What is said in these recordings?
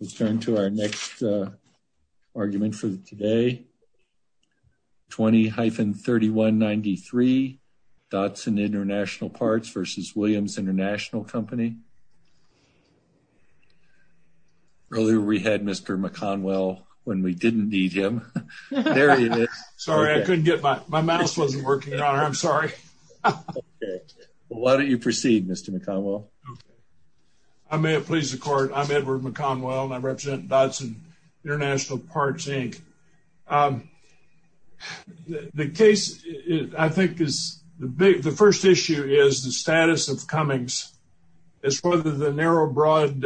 Let's turn to our next argument for today. 20-3193 Dotson International Parts v. Williams International Company. Earlier we had Mr. McConwell when we didn't need him. Sorry I couldn't get my my mouse wasn't working. I'm sorry. Why don't you proceed Mr. McConwell. Okay. I may have pleased the court. I'm Edward McConwell and I represent Dotson International Parts Inc. The case I think is the big the first issue is the status of Cummings is whether the narrow broad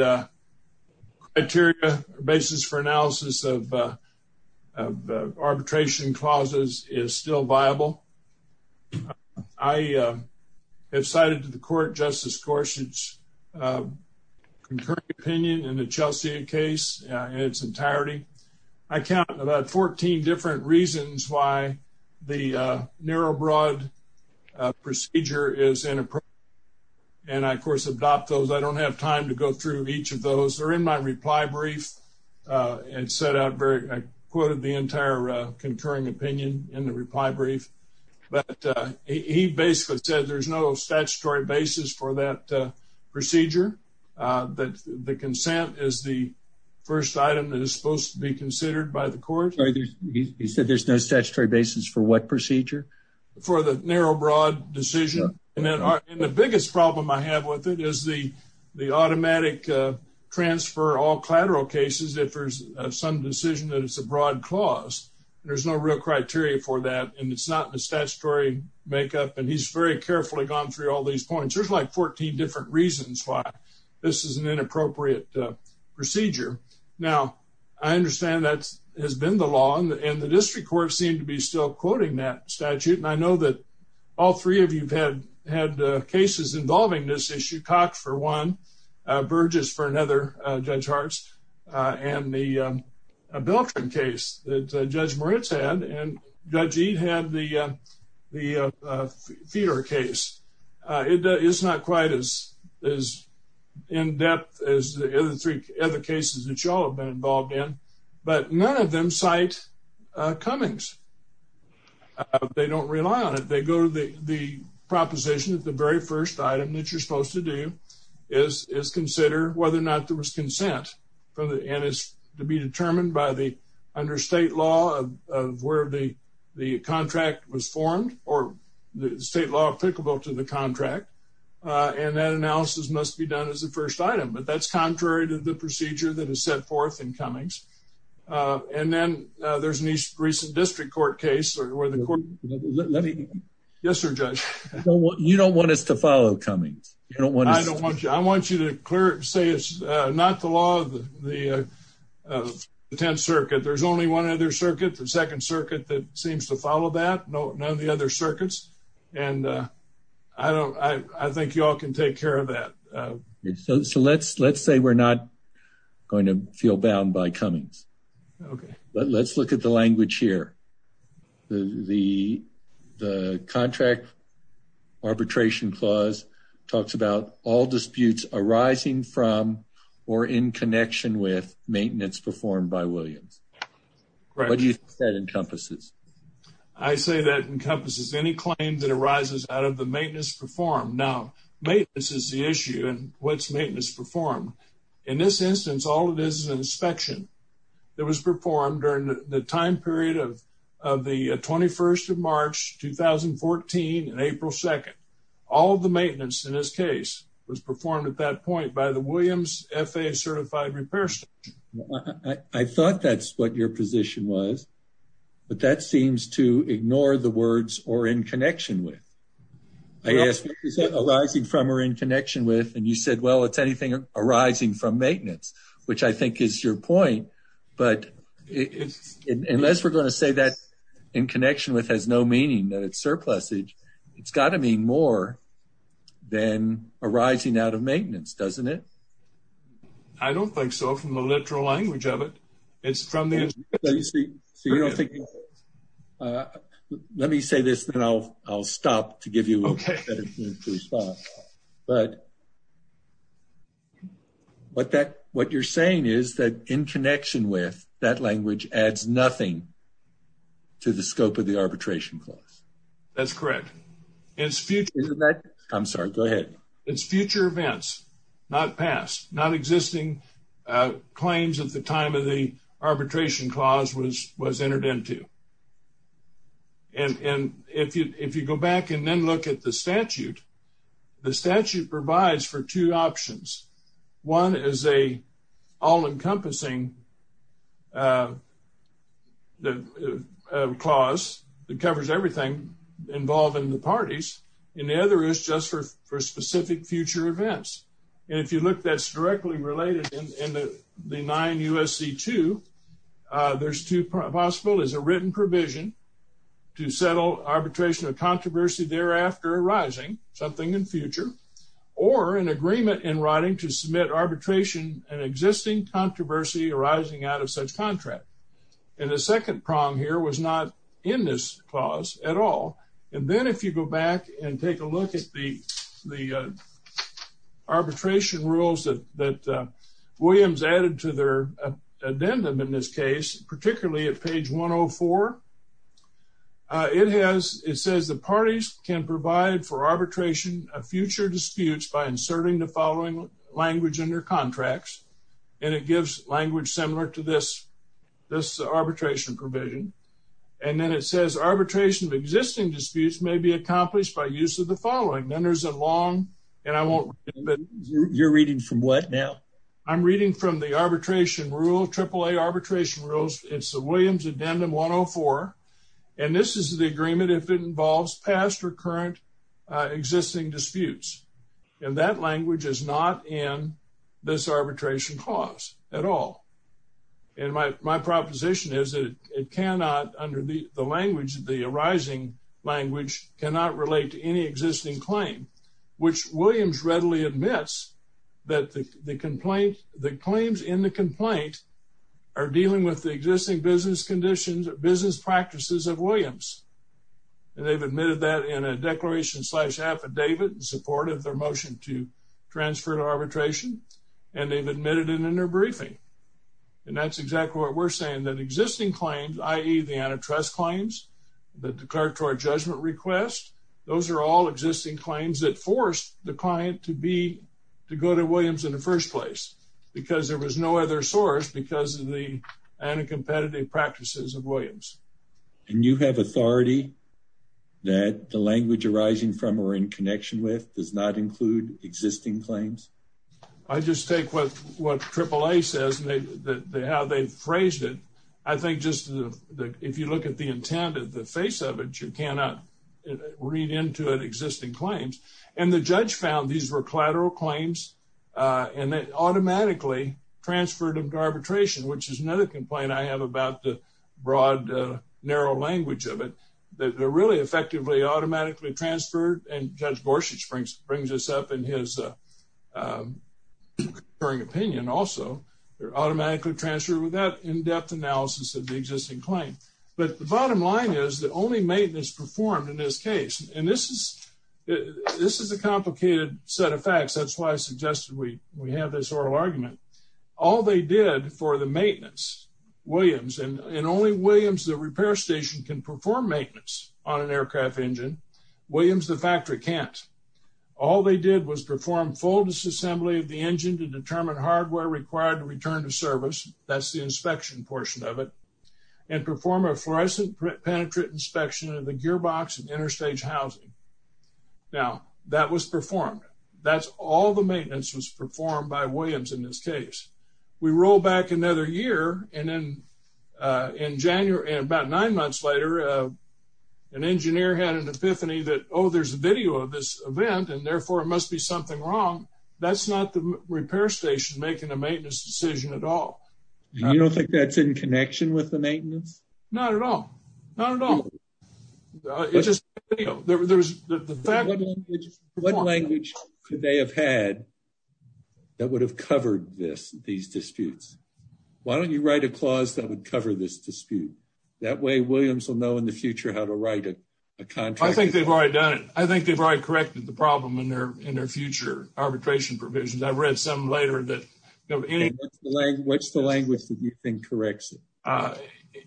criteria basis for analysis of arbitration clauses is still viable. I have cited to the court Justice Gorsuch's concurring opinion in the Chelsea case in its entirety. I count about 14 different reasons why the narrow broad procedure is inappropriate and I of course adopt those. I don't have time to go through each of those. They're in my reply brief and set out very I quoted the entire concurring opinion in the reply brief but he basically said there's no statutory basis for that procedure that the consent is the first item that is supposed to be considered by the court. He said there's no statutory basis for what procedure? For the narrow broad decision and then the biggest problem I have with it is the automatic transfer all collateral cases if there's some decision that it's a broad clause. There's no real criteria for that and it's not the statutory makeup and he's very carefully gone through all these points. There's like 14 different reasons why this is an inappropriate procedure. Now I understand that has been the law and the district court seem to be still quoting that statute and I know that all three of you have had cases involving this issue. Cox for one, Burgess for another, Judge Hartz and the Beltran case that Judge Moritz had and Judge Eade had the Feeder case. It's not quite as in depth as the other three other cases that you all have been involved in but none of them cite Cummings. They don't rely on it. They go to the proposition that very first item that you're supposed to do is consider whether or not there was consent and it's to be determined by the under state law of where the contract was formed or the state law applicable to the contract and that analysis must be done as the first item but that's contrary to the procedure that is set forth in Cummings and then there's an east recent district court case where the court let me yes sir judge well you don't want us to follow Cummings you don't want to I don't want you I want you to clear it say it's not the law of the 10th circuit there's only one other circuit the second circuit that seems to follow that no none of the other circuits and I don't I think you all can take care of that so let's let's say we're not going to feel bound by Cummings okay but let's look at the language here the the contract arbitration clause talks about all disputes arising from or in connection with maintenance performed by Williams what do you think that encompasses I say that encompasses any claim that arises out of the maintenance performed now maintenance is the issue and what's maintenance performed in this instance all it is inspection that was performed during the time period of of the 21st of March 2014 and April 2nd all the maintenance in this case was performed at that point by the Williams FAA certified repair station I thought that's what your position was but that seems to ignore the words or in connection with I asked what is that arising from or in connection with and you said well it's anything arising from maintenance which I think is your point but it's unless we're going to say that in connection with has no meaning that it's surplusage it's got to mean more than arising out of maintenance doesn't it I don't think so from the literal language of it it's from the let me say this then I'll I'll stop to give you okay stop but what that what you're saying is that in connection with that language adds nothing to the scope of the arbitration clause that's correct it's future I'm sorry go ahead it's future events not past not existing claims at the time of the arbitration clause was was entered into and and if you if you go back and then look at the statute the statute provides for two options one is a all-encompassing uh the clause that covers everything involved in the parties and the other is just for for specific future events and if you look that's directly related in the the nine usc2 uh there's two possible is a written provision to settle arbitration of controversy thereafter arising something in future or an agreement in writing to submit arbitration an existing controversy arising out of such contract and the second prong here was not in this clause at all and then if you go back and take a look at the the arbitration rules that that williams added to their addendum in this case particularly at page 104 uh it has it says the parties can provide for arbitration of future disputes by inserting the following language in their contracts and it gives language similar to this this arbitration provision and then it says arbitration of existing disputes may be accomplished by use of the reading from the arbitration rule triple a arbitration rules it's the williams addendum 104 and this is the agreement if it involves past or current uh existing disputes and that language is not in this arbitration clause at all and my my proposition is that it cannot under the the language the arising language cannot relate to any existing claim which williams readily admits that the complaint the claims in the complaint are dealing with the existing business conditions business practices of williams and they've admitted that in a declaration slash affidavit in support of their motion to transfer to arbitration and they've admitted it in their briefing and that's exactly what we're saying that existing claims i.e the antitrust claims the declaratory judgment request those are all existing claims that force the client to be to go to williams in the first place because there was no other source because of the anti-competitive practices of williams and you have authority that the language arising from or in connection with does not include existing claims i just take what what triple a says and they the how they phrased it i think just if you look at the intent of the face of it you cannot read into it existing claims and the judge found these were collateral claims and they automatically transferred them to arbitration which is another complaint i have about the broad narrow language of it that they're really effectively automatically transferred and judge borsig springs brings us up in his um occurring opinion also they're automatically transferred without in-depth analysis of the existing claim but the bottom line is the only maintenance performed in this case and this is this is a complicated set of facts that's why i suggested we we have this oral argument all they did for the maintenance williams and only williams the repair station can perform maintenance on an aircraft engine williams the factory can't all they did was perform full disassembly of the engine to determine hardware required to return service that's the inspection portion of it and perform a fluorescent penetrant inspection of the gearbox and interstage housing now that was performed that's all the maintenance was performed by williams in this case we roll back another year and then uh in january and about nine months later an engineer had an epiphany that oh there's a video of this event and therefore it must be that's not the repair station making a maintenance decision at all you don't think that's in connection with the maintenance not at all not at all it's just video there's the fact what language could they have had that would have covered this these disputes why don't you write a clause that would cover this dispute that way williams will know in the future how to write a contract i think they've already done it i think they've corrected the problem in their in their future arbitration provisions i've read some later that what's the language that you think corrects it uh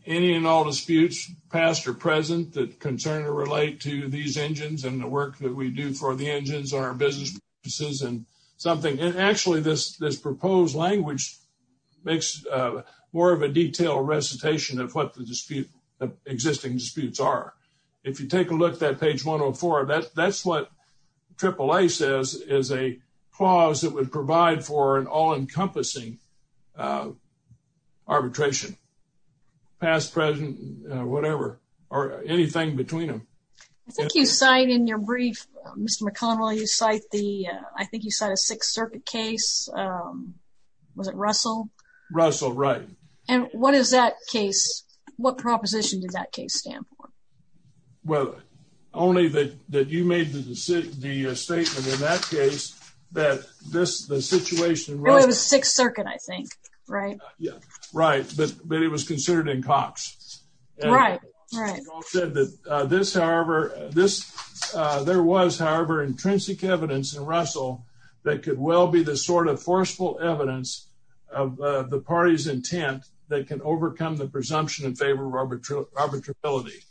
any and all disputes past or present that concern or relate to these engines and the work that we do for the engines on our business purposes and something and actually this this proposed language makes uh more of a detailed recitation of what the dispute existing disputes are if you take a look at page 104 that that's triple a says is a clause that would provide for an all-encompassing uh arbitration past present whatever or anything between them i think you cite in your brief mr mcconnell you cite the i think you said a sixth circuit case um was it russell russell right and what is that case what proposition did that case stand for well only that that you made the decision the statement in that case that this the situation really was sixth circuit i think right yeah right but but it was considered in cox right right said that uh this however this uh there was however intrinsic evidence in russell that could well be the sort of forceful evidence of the party's intent that can overcome the presumption in favor of arbitrariness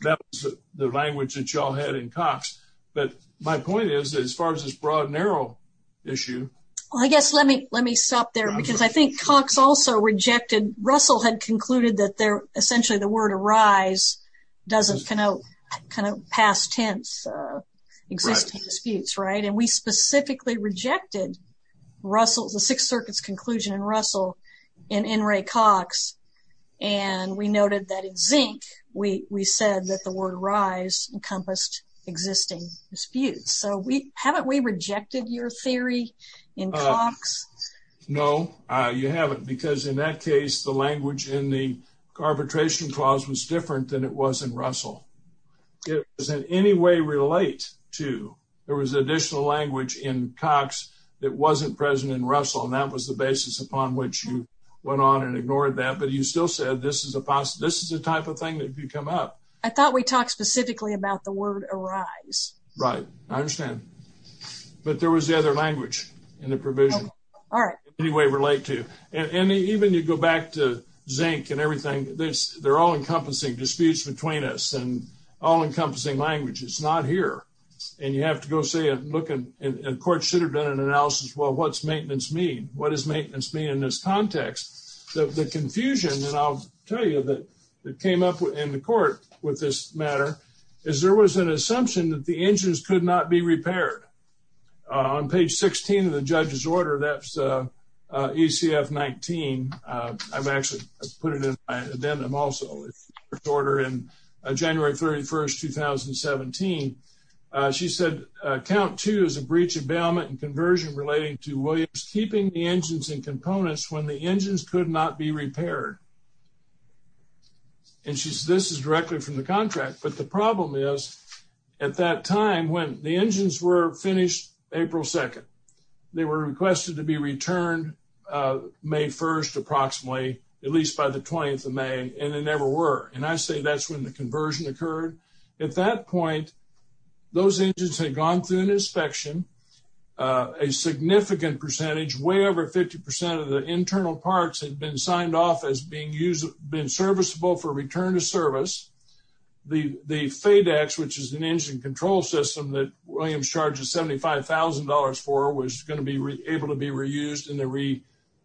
that was the language that y'all had in cox but my point is as far as this broad narrow issue well i guess let me let me stop there because i think cox also rejected russell had concluded that they're essentially the word arise doesn't kind of kind of past tense uh existing disputes right and we specifically rejected russell's the sixth circuit's conclusion in russell in in rey cox and we noted that in zinc we we said that the word rise encompassed existing disputes so we haven't we rejected your theory in cox no uh you haven't because in that case the language in the arbitration clause was different than it was in russell it doesn't in any way relate to there was additional language in cox that wasn't present in russell and that was the basis upon which you went on and ignored that but you still said this is a possible this is the type of thing that you come up i thought we talked specifically about the word arise right i understand but there was the other language in the provision all right anyway relate to and even you go back to zinc and everything this they're all encompassing disputes between us and all encompassing language it's not here and you have to go say it look and court should have done an analysis well what's maintenance mean what does maintenance mean in this context the confusion and i'll tell you that it came up in the court with this matter is there was an assumption that the engines could not be repaired on page 16 of the judge's order that's uh uh ecf 19 uh i've actually put it in my addendum also order in january 31st 2017 she said count two is a breach of bailment and conversion relating to williams keeping the engines and components when the engines could not be repaired and she said this is directly from the contract but the problem is at that time when the engines were finished april 2nd they were requested to be returned may 1st approximately at least by the 20th of may and they never were and i say that's when the conversion occurred at that point those engines had gone through an inspection a significant percentage way over 50 of the internal parts had been signed off as being used been serviceable for return to service the the fadex which is an engine control system that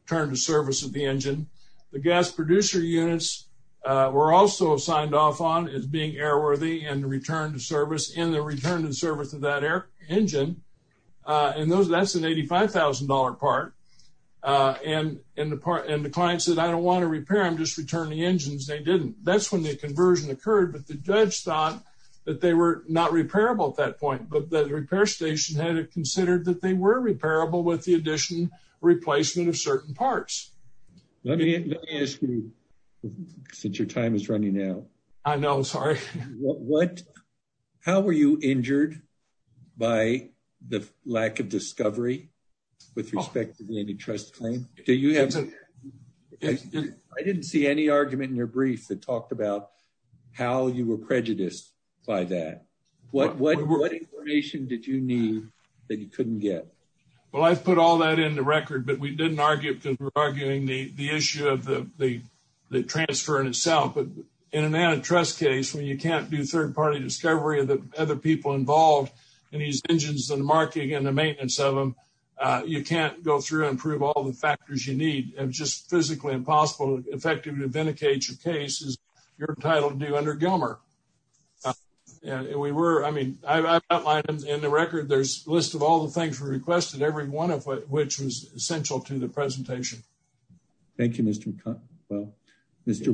turned the service of the engine the gas producer units were also signed off on as being airworthy and returned to service in the return to the service of that air engine uh and those that's an $85,000 part uh and in the part and the client said i don't want to repair them just return the engines they didn't that's when the conversion occurred but the judge thought that they were not repairable at that point but the repair station had considered that they were repairable with the addition replacement of certain parts let me let me ask you since your time is running now i know sorry what how were you injured by the lack of discovery with respect to the antitrust claim do you have i didn't see any argument in your brief that talked about how you were put all that in the record but we didn't argue because we're arguing the the issue of the the transfer in itself but in an antitrust case when you can't do third-party discovery of the other people involved in these engines and marking and the maintenance of them uh you can't go through and prove all the factors you need and just physically impossible effectively vindicate your case is your title to do under gilmer and we were i mean i've outlined in the record there's a list of all the things we requested every one of which was essential to the presentation thank you mr cut well mr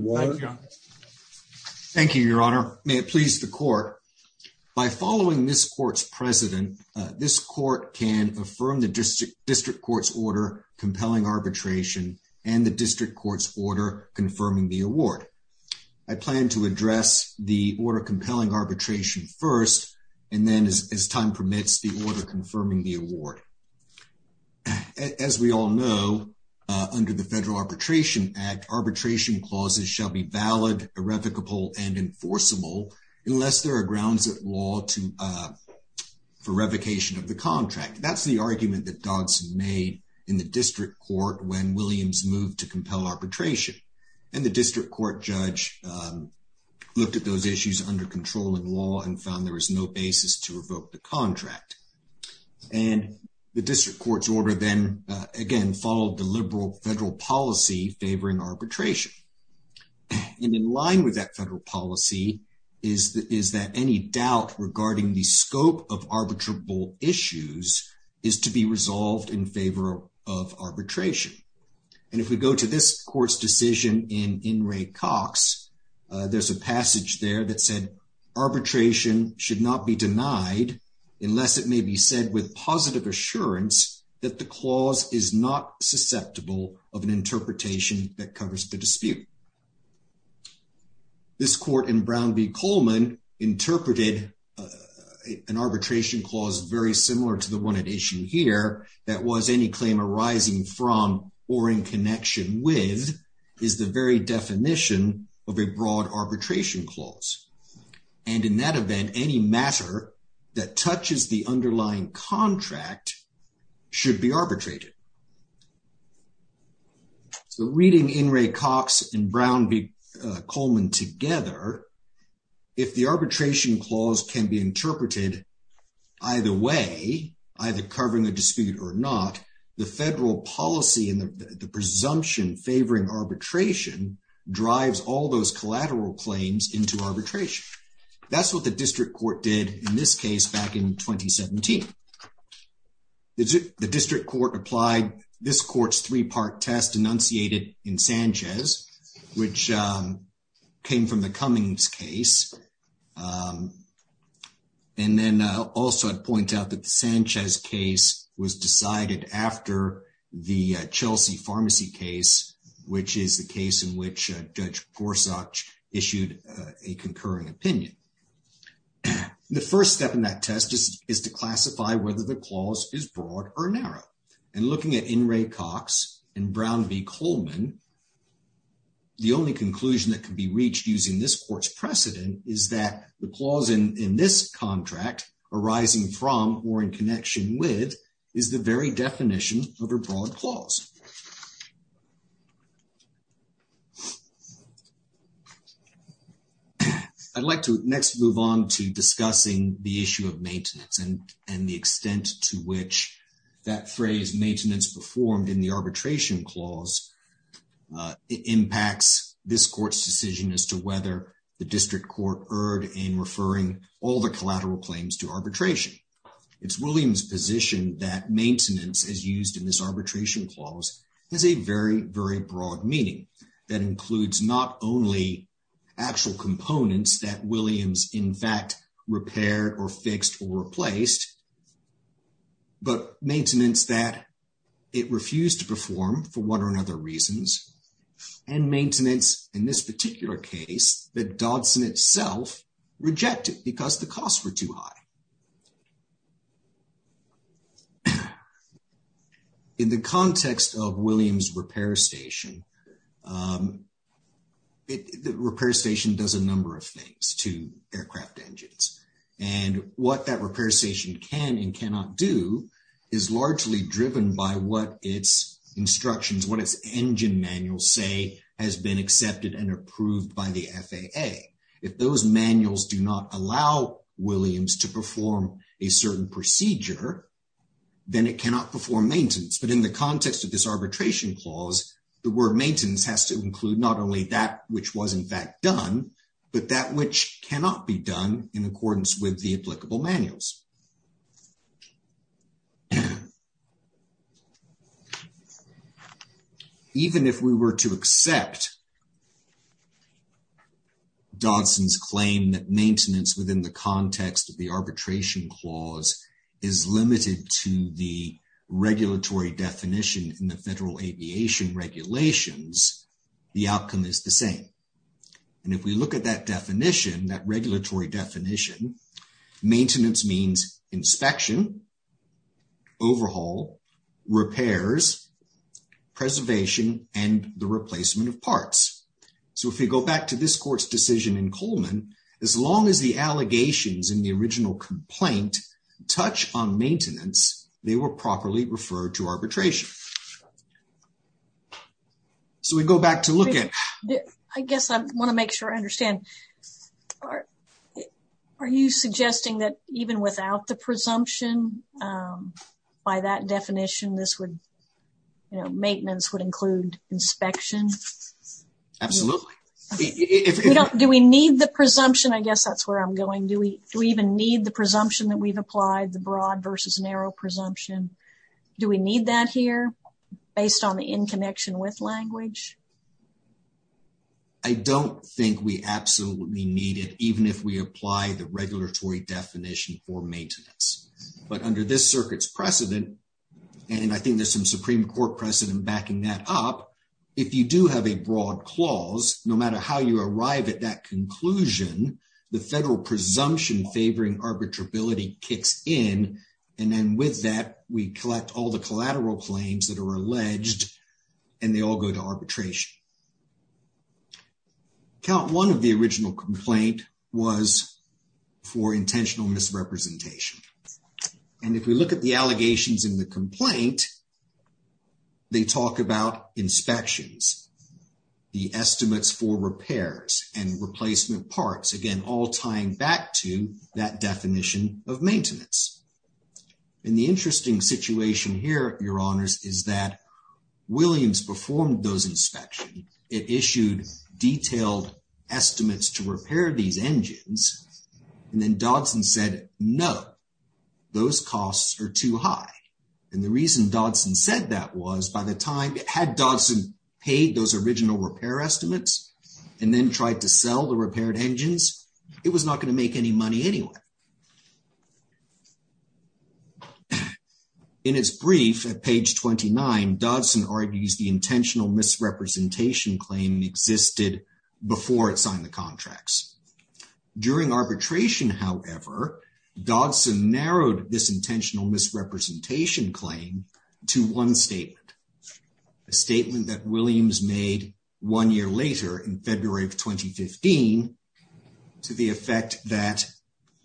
thank you your honor may it please the court by following this court's president this court can affirm the district district court's order compelling arbitration and the district court's order confirming the award i plan to address the order compelling arbitration first and then as time permits the order confirming the award as we all know under the federal arbitration act arbitration clauses shall be valid irrevocable and enforceable unless there are grounds at law to uh for revocation of the contract that's the argument that dawson made in the district court when williams moved to compel arbitration and the district court judge looked at those issues under controlling law and found there was no basis to revoke the contract and the district court's order then again followed the liberal federal policy favoring arbitration and in line with that federal policy is that is that any doubt regarding the scope of arbitrable issues is to be resolved in favor of arbitration and if we go to this court's decision in in rey cox there's a passage there that said arbitration should not be denied unless it may be said with positive assurance that the clause is not susceptible of an interpretation that covers the dispute this court in brown v coleman interpreted an arbitration clause very similar to the one at here that was any claim arising from or in connection with is the very definition of a broad arbitration clause and in that event any matter that touches the underlying contract should be arbitrated so reading in rey cox and brown v coleman together if the arbitration clause can be interpreted either way either covering a dispute or not the federal policy and the presumption favoring arbitration drives all those collateral claims into arbitration that's what the district court did in this case back in 2017. the district court applied this court's three-part test enunciated in sanchez which came from the cummings case and then also i'd point out that the sanchez case was decided after the chelsea pharmacy case which is the case in which judge gorsuch issued a concurring opinion the first step in that test is to classify whether the clause is broad or narrow and looking at in rey cox and brown v coleman the only conclusion that can be reached using this court's precedent is that the clause in this contract arising from or in connection with is the very definition of a broad clause i'd like to next move on to discussing the issue of maintenance and and the extent to which that phrase maintenance performed in the arbitration clause uh it impacts this court's decision as to whether the district court erred in referring all the collateral claims to arbitration it's williams position that maintenance is used in this arbitration clause has a very very broad meaning that includes not only actual components that williams in fact repaired or fixed or replaced but maintenance that it refused to reasons and maintenance in this particular case that dodson itself rejected because the costs were too high in the context of williams repair station um the repair station does a number of things to aircraft engines and what that repair station can and cannot do is largely driven by what its instructions what its engine manuals say has been accepted and approved by the faa if those manuals do not allow williams to perform a certain procedure then it cannot perform maintenance but in the context of this arbitration clause the word maintenance has to include not only that which was in fact done but that which cannot be done in accordance with the applicable manuals so even if we were to accept dodson's claim that maintenance within the context of the arbitration clause is limited to the regulatory definition in the federal aviation regulations the outcome is the same and if we look at that definition that regulatory definition maintenance means inspection overhaul repairs preservation and the replacement of parts so if we go back to this court's decision in coleman as long as the allegations in the original complaint touch on maintenance they were properly referred to arbitration so we go back to look at i guess i want to make sure i understand all right are you suggesting that even without the presumption by that definition this would you know maintenance would include inspection absolutely do we need the presumption i guess that's where i'm going do we do we even need the presumption that we've applied the broad versus narrow presumption do we need that here based on the in connection with language i don't think we absolutely need it even if we apply the regulatory definition for maintenance but under this circuit's precedent and i think there's some supreme court precedent backing that up if you do have a broad clause no matter how you arrive at that conclusion the federal presumption favoring arbitrability kicks in and then with that we all the collateral claims that are alleged and they all go to arbitration count one of the original complaint was for intentional misrepresentation and if we look at the allegations in the complaint they talk about inspections the estimates for repairs and replacement parts again all tying back to that definition of maintenance and the interesting situation here your honors is that williams performed those inspections it issued detailed estimates to repair these engines and then dodson said no those costs are too high and the reason dodson said that was by the time it had dodson paid those original repair estimates and then tried to sell the repaired engines it was not going to make any anyway in its brief at page 29 dodson argues the intentional misrepresentation claim existed before it signed the contracts during arbitration however dodson narrowed this intentional misrepresentation claim to one statement a statement that williams made one year later in february of 2015 to the effect that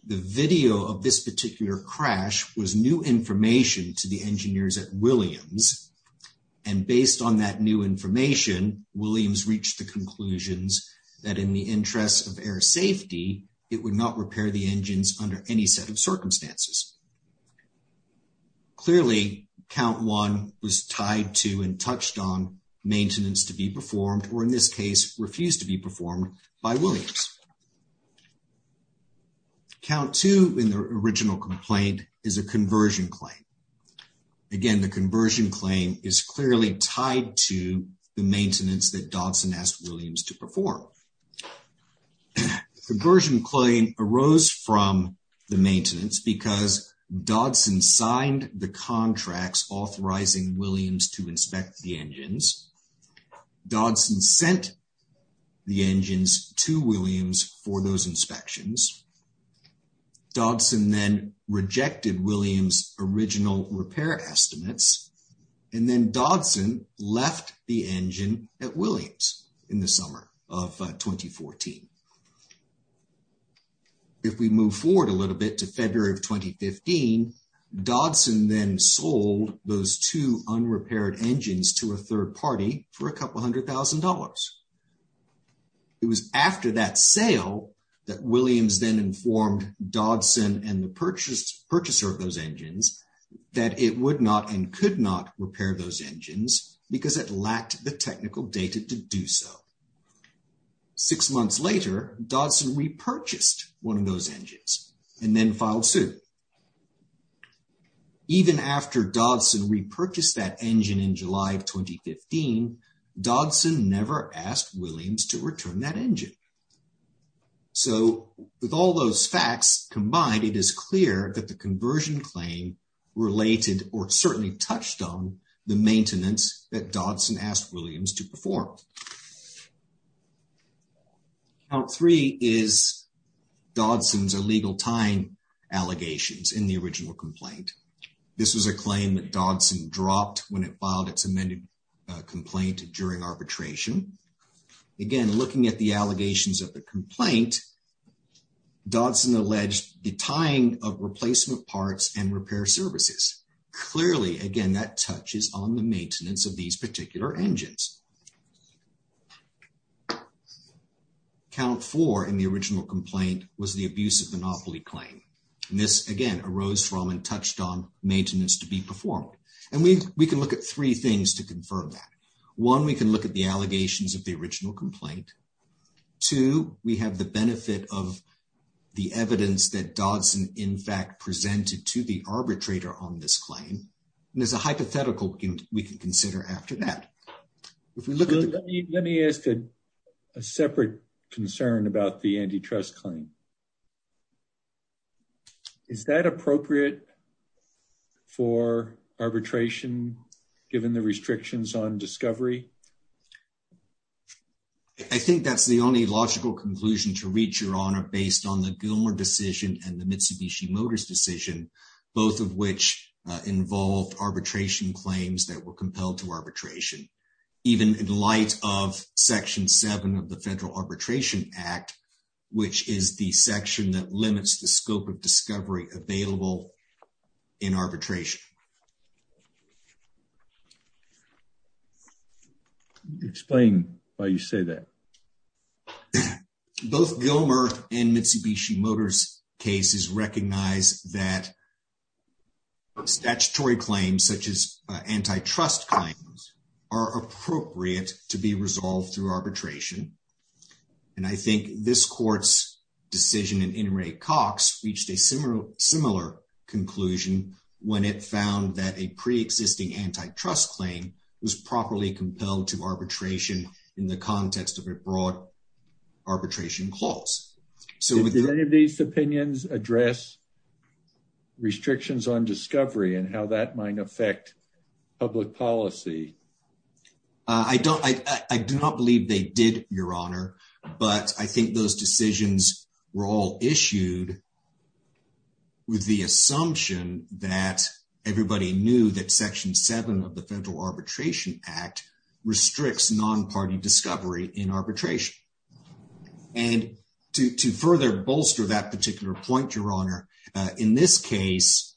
the video of this particular crash was new information to the engineers at williams and based on that new information williams reached the conclusions that in the interest of air safety it would not repair the engines under any set of circumstances clearly count one was tied to and touched on maintenance to be performed or in this case refused to be performed by williams count two in the original complaint is a conversion claim again the conversion claim is clearly tied to the maintenance that dodson asked williams to perform the conversion claim arose from the maintenance because dodson signed the contracts authorizing williams to inspect the engines dodson sent the engines to williams for those inspections dodson then rejected williams original repair estimates and then dodson left the engine at 2014 if we move forward a little bit to february of 2015 dodson then sold those two unrepaired engines to a third party for a couple hundred thousand dollars it was after that sale that williams then informed dodson and the purchase purchaser of those engines that it would not and six months later dodson repurchased one of those engines and then filed suit even after dodson repurchased that engine in july of 2015 dodson never asked williams to return that engine so with all those facts combined it is clear that the conversion claim related or certainly touched on the maintenance that dodson asked williams to perform count three is dodson's illegal tying allegations in the original complaint this was a claim that dodson dropped when it filed its amended complaint during arbitration again looking at the allegations of the complaint dodson alleged the tying of replacement parts and repair services clearly again that touches on the maintenance of these particular engines count four in the original complaint was the abuse of monopoly claim and this again arose from and touched on maintenance to be performed and we we can look at three things to confirm that one we can look at the allegations of the original complaint two we have the benefit of the evidence that dodson in fact presented to the arbitrator on this claim and there's a concern about the antitrust claim is that appropriate for arbitration given the restrictions on discovery i think that's the only logical conclusion to reach your honor based on the gilmore decision and the mitsubishi motors decision both of which involved arbitration claims that were compelled to arbitration even in the light of section 7 of the federal arbitration act which is the section that limits the scope of discovery available in arbitration explain why you say that both gilmer and mitsubishi motors cases recognize that statutory claims such as antitrust claims are appropriate to be resolved through arbitration and i think this court's decision and in rey cox reached a similar similar conclusion when it found that a pre-existing antitrust claim was properly compelled to arbitration in the context of a broad arbitration clause so did any of these opinions address restrictions on discovery and how that might affect public policy i don't i i do not believe they did your honor but i think those decisions were all issued with the assumption that everybody knew that section 7 of the federal act restricts non-party discovery in arbitration and to to further bolster that particular point your honor in this case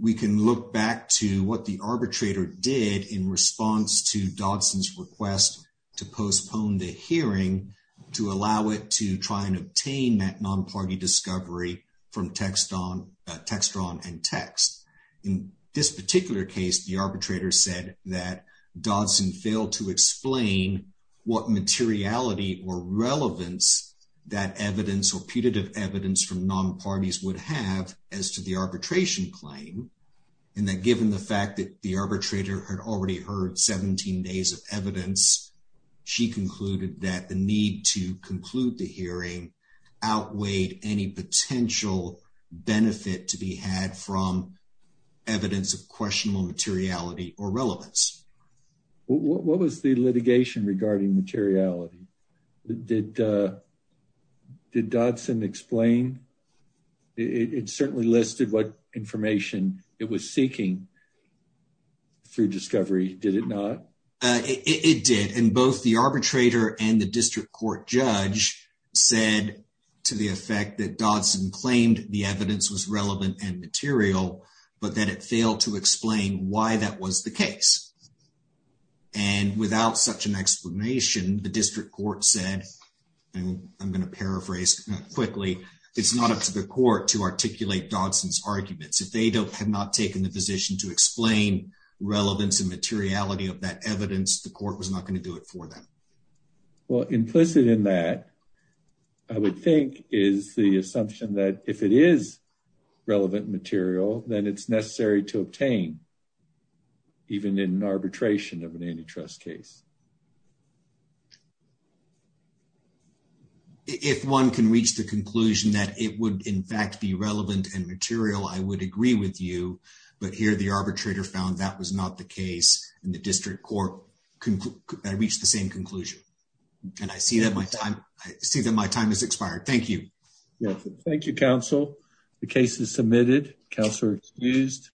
we can look back to what the arbitrator did in response to dodson's request to postpone the hearing to allow it to try and obtain that non-party discovery from text on text drawn and text in this particular case the arbitrator said that dodson failed to explain what materiality or relevance that evidence or putative evidence from non-parties would have as to the arbitration claim and that given the fact that the arbitrator had already heard 17 days of evidence she concluded that the need to conclude the hearing outweighed any potential benefit to be had from evidence of questionable materiality or relevance what was the litigation regarding materiality did did dodson explain it certainly listed what information it was seeking through discovery did it not it did and both the arbitrator and the district court judge said to the effect that dodson claimed the evidence was relevant and material but that it failed to explain why that was the case and without such an explanation the district court said and i'm going to paraphrase quickly it's not up to the court to articulate dodson's arguments if they don't have not taken the position to explain relevance and materiality that evidence the court was not going to do it for them well implicit in that i would think is the assumption that if it is relevant material then it's necessary to obtain even in an arbitration of an antitrust case if one can reach the conclusion that it would in fact be relevant and material i would agree with but here the arbitrator found that was not the case and the district court i reached the same conclusion and i see that my time i see that my time has expired thank you thank you counsel the case is submitted counselor excused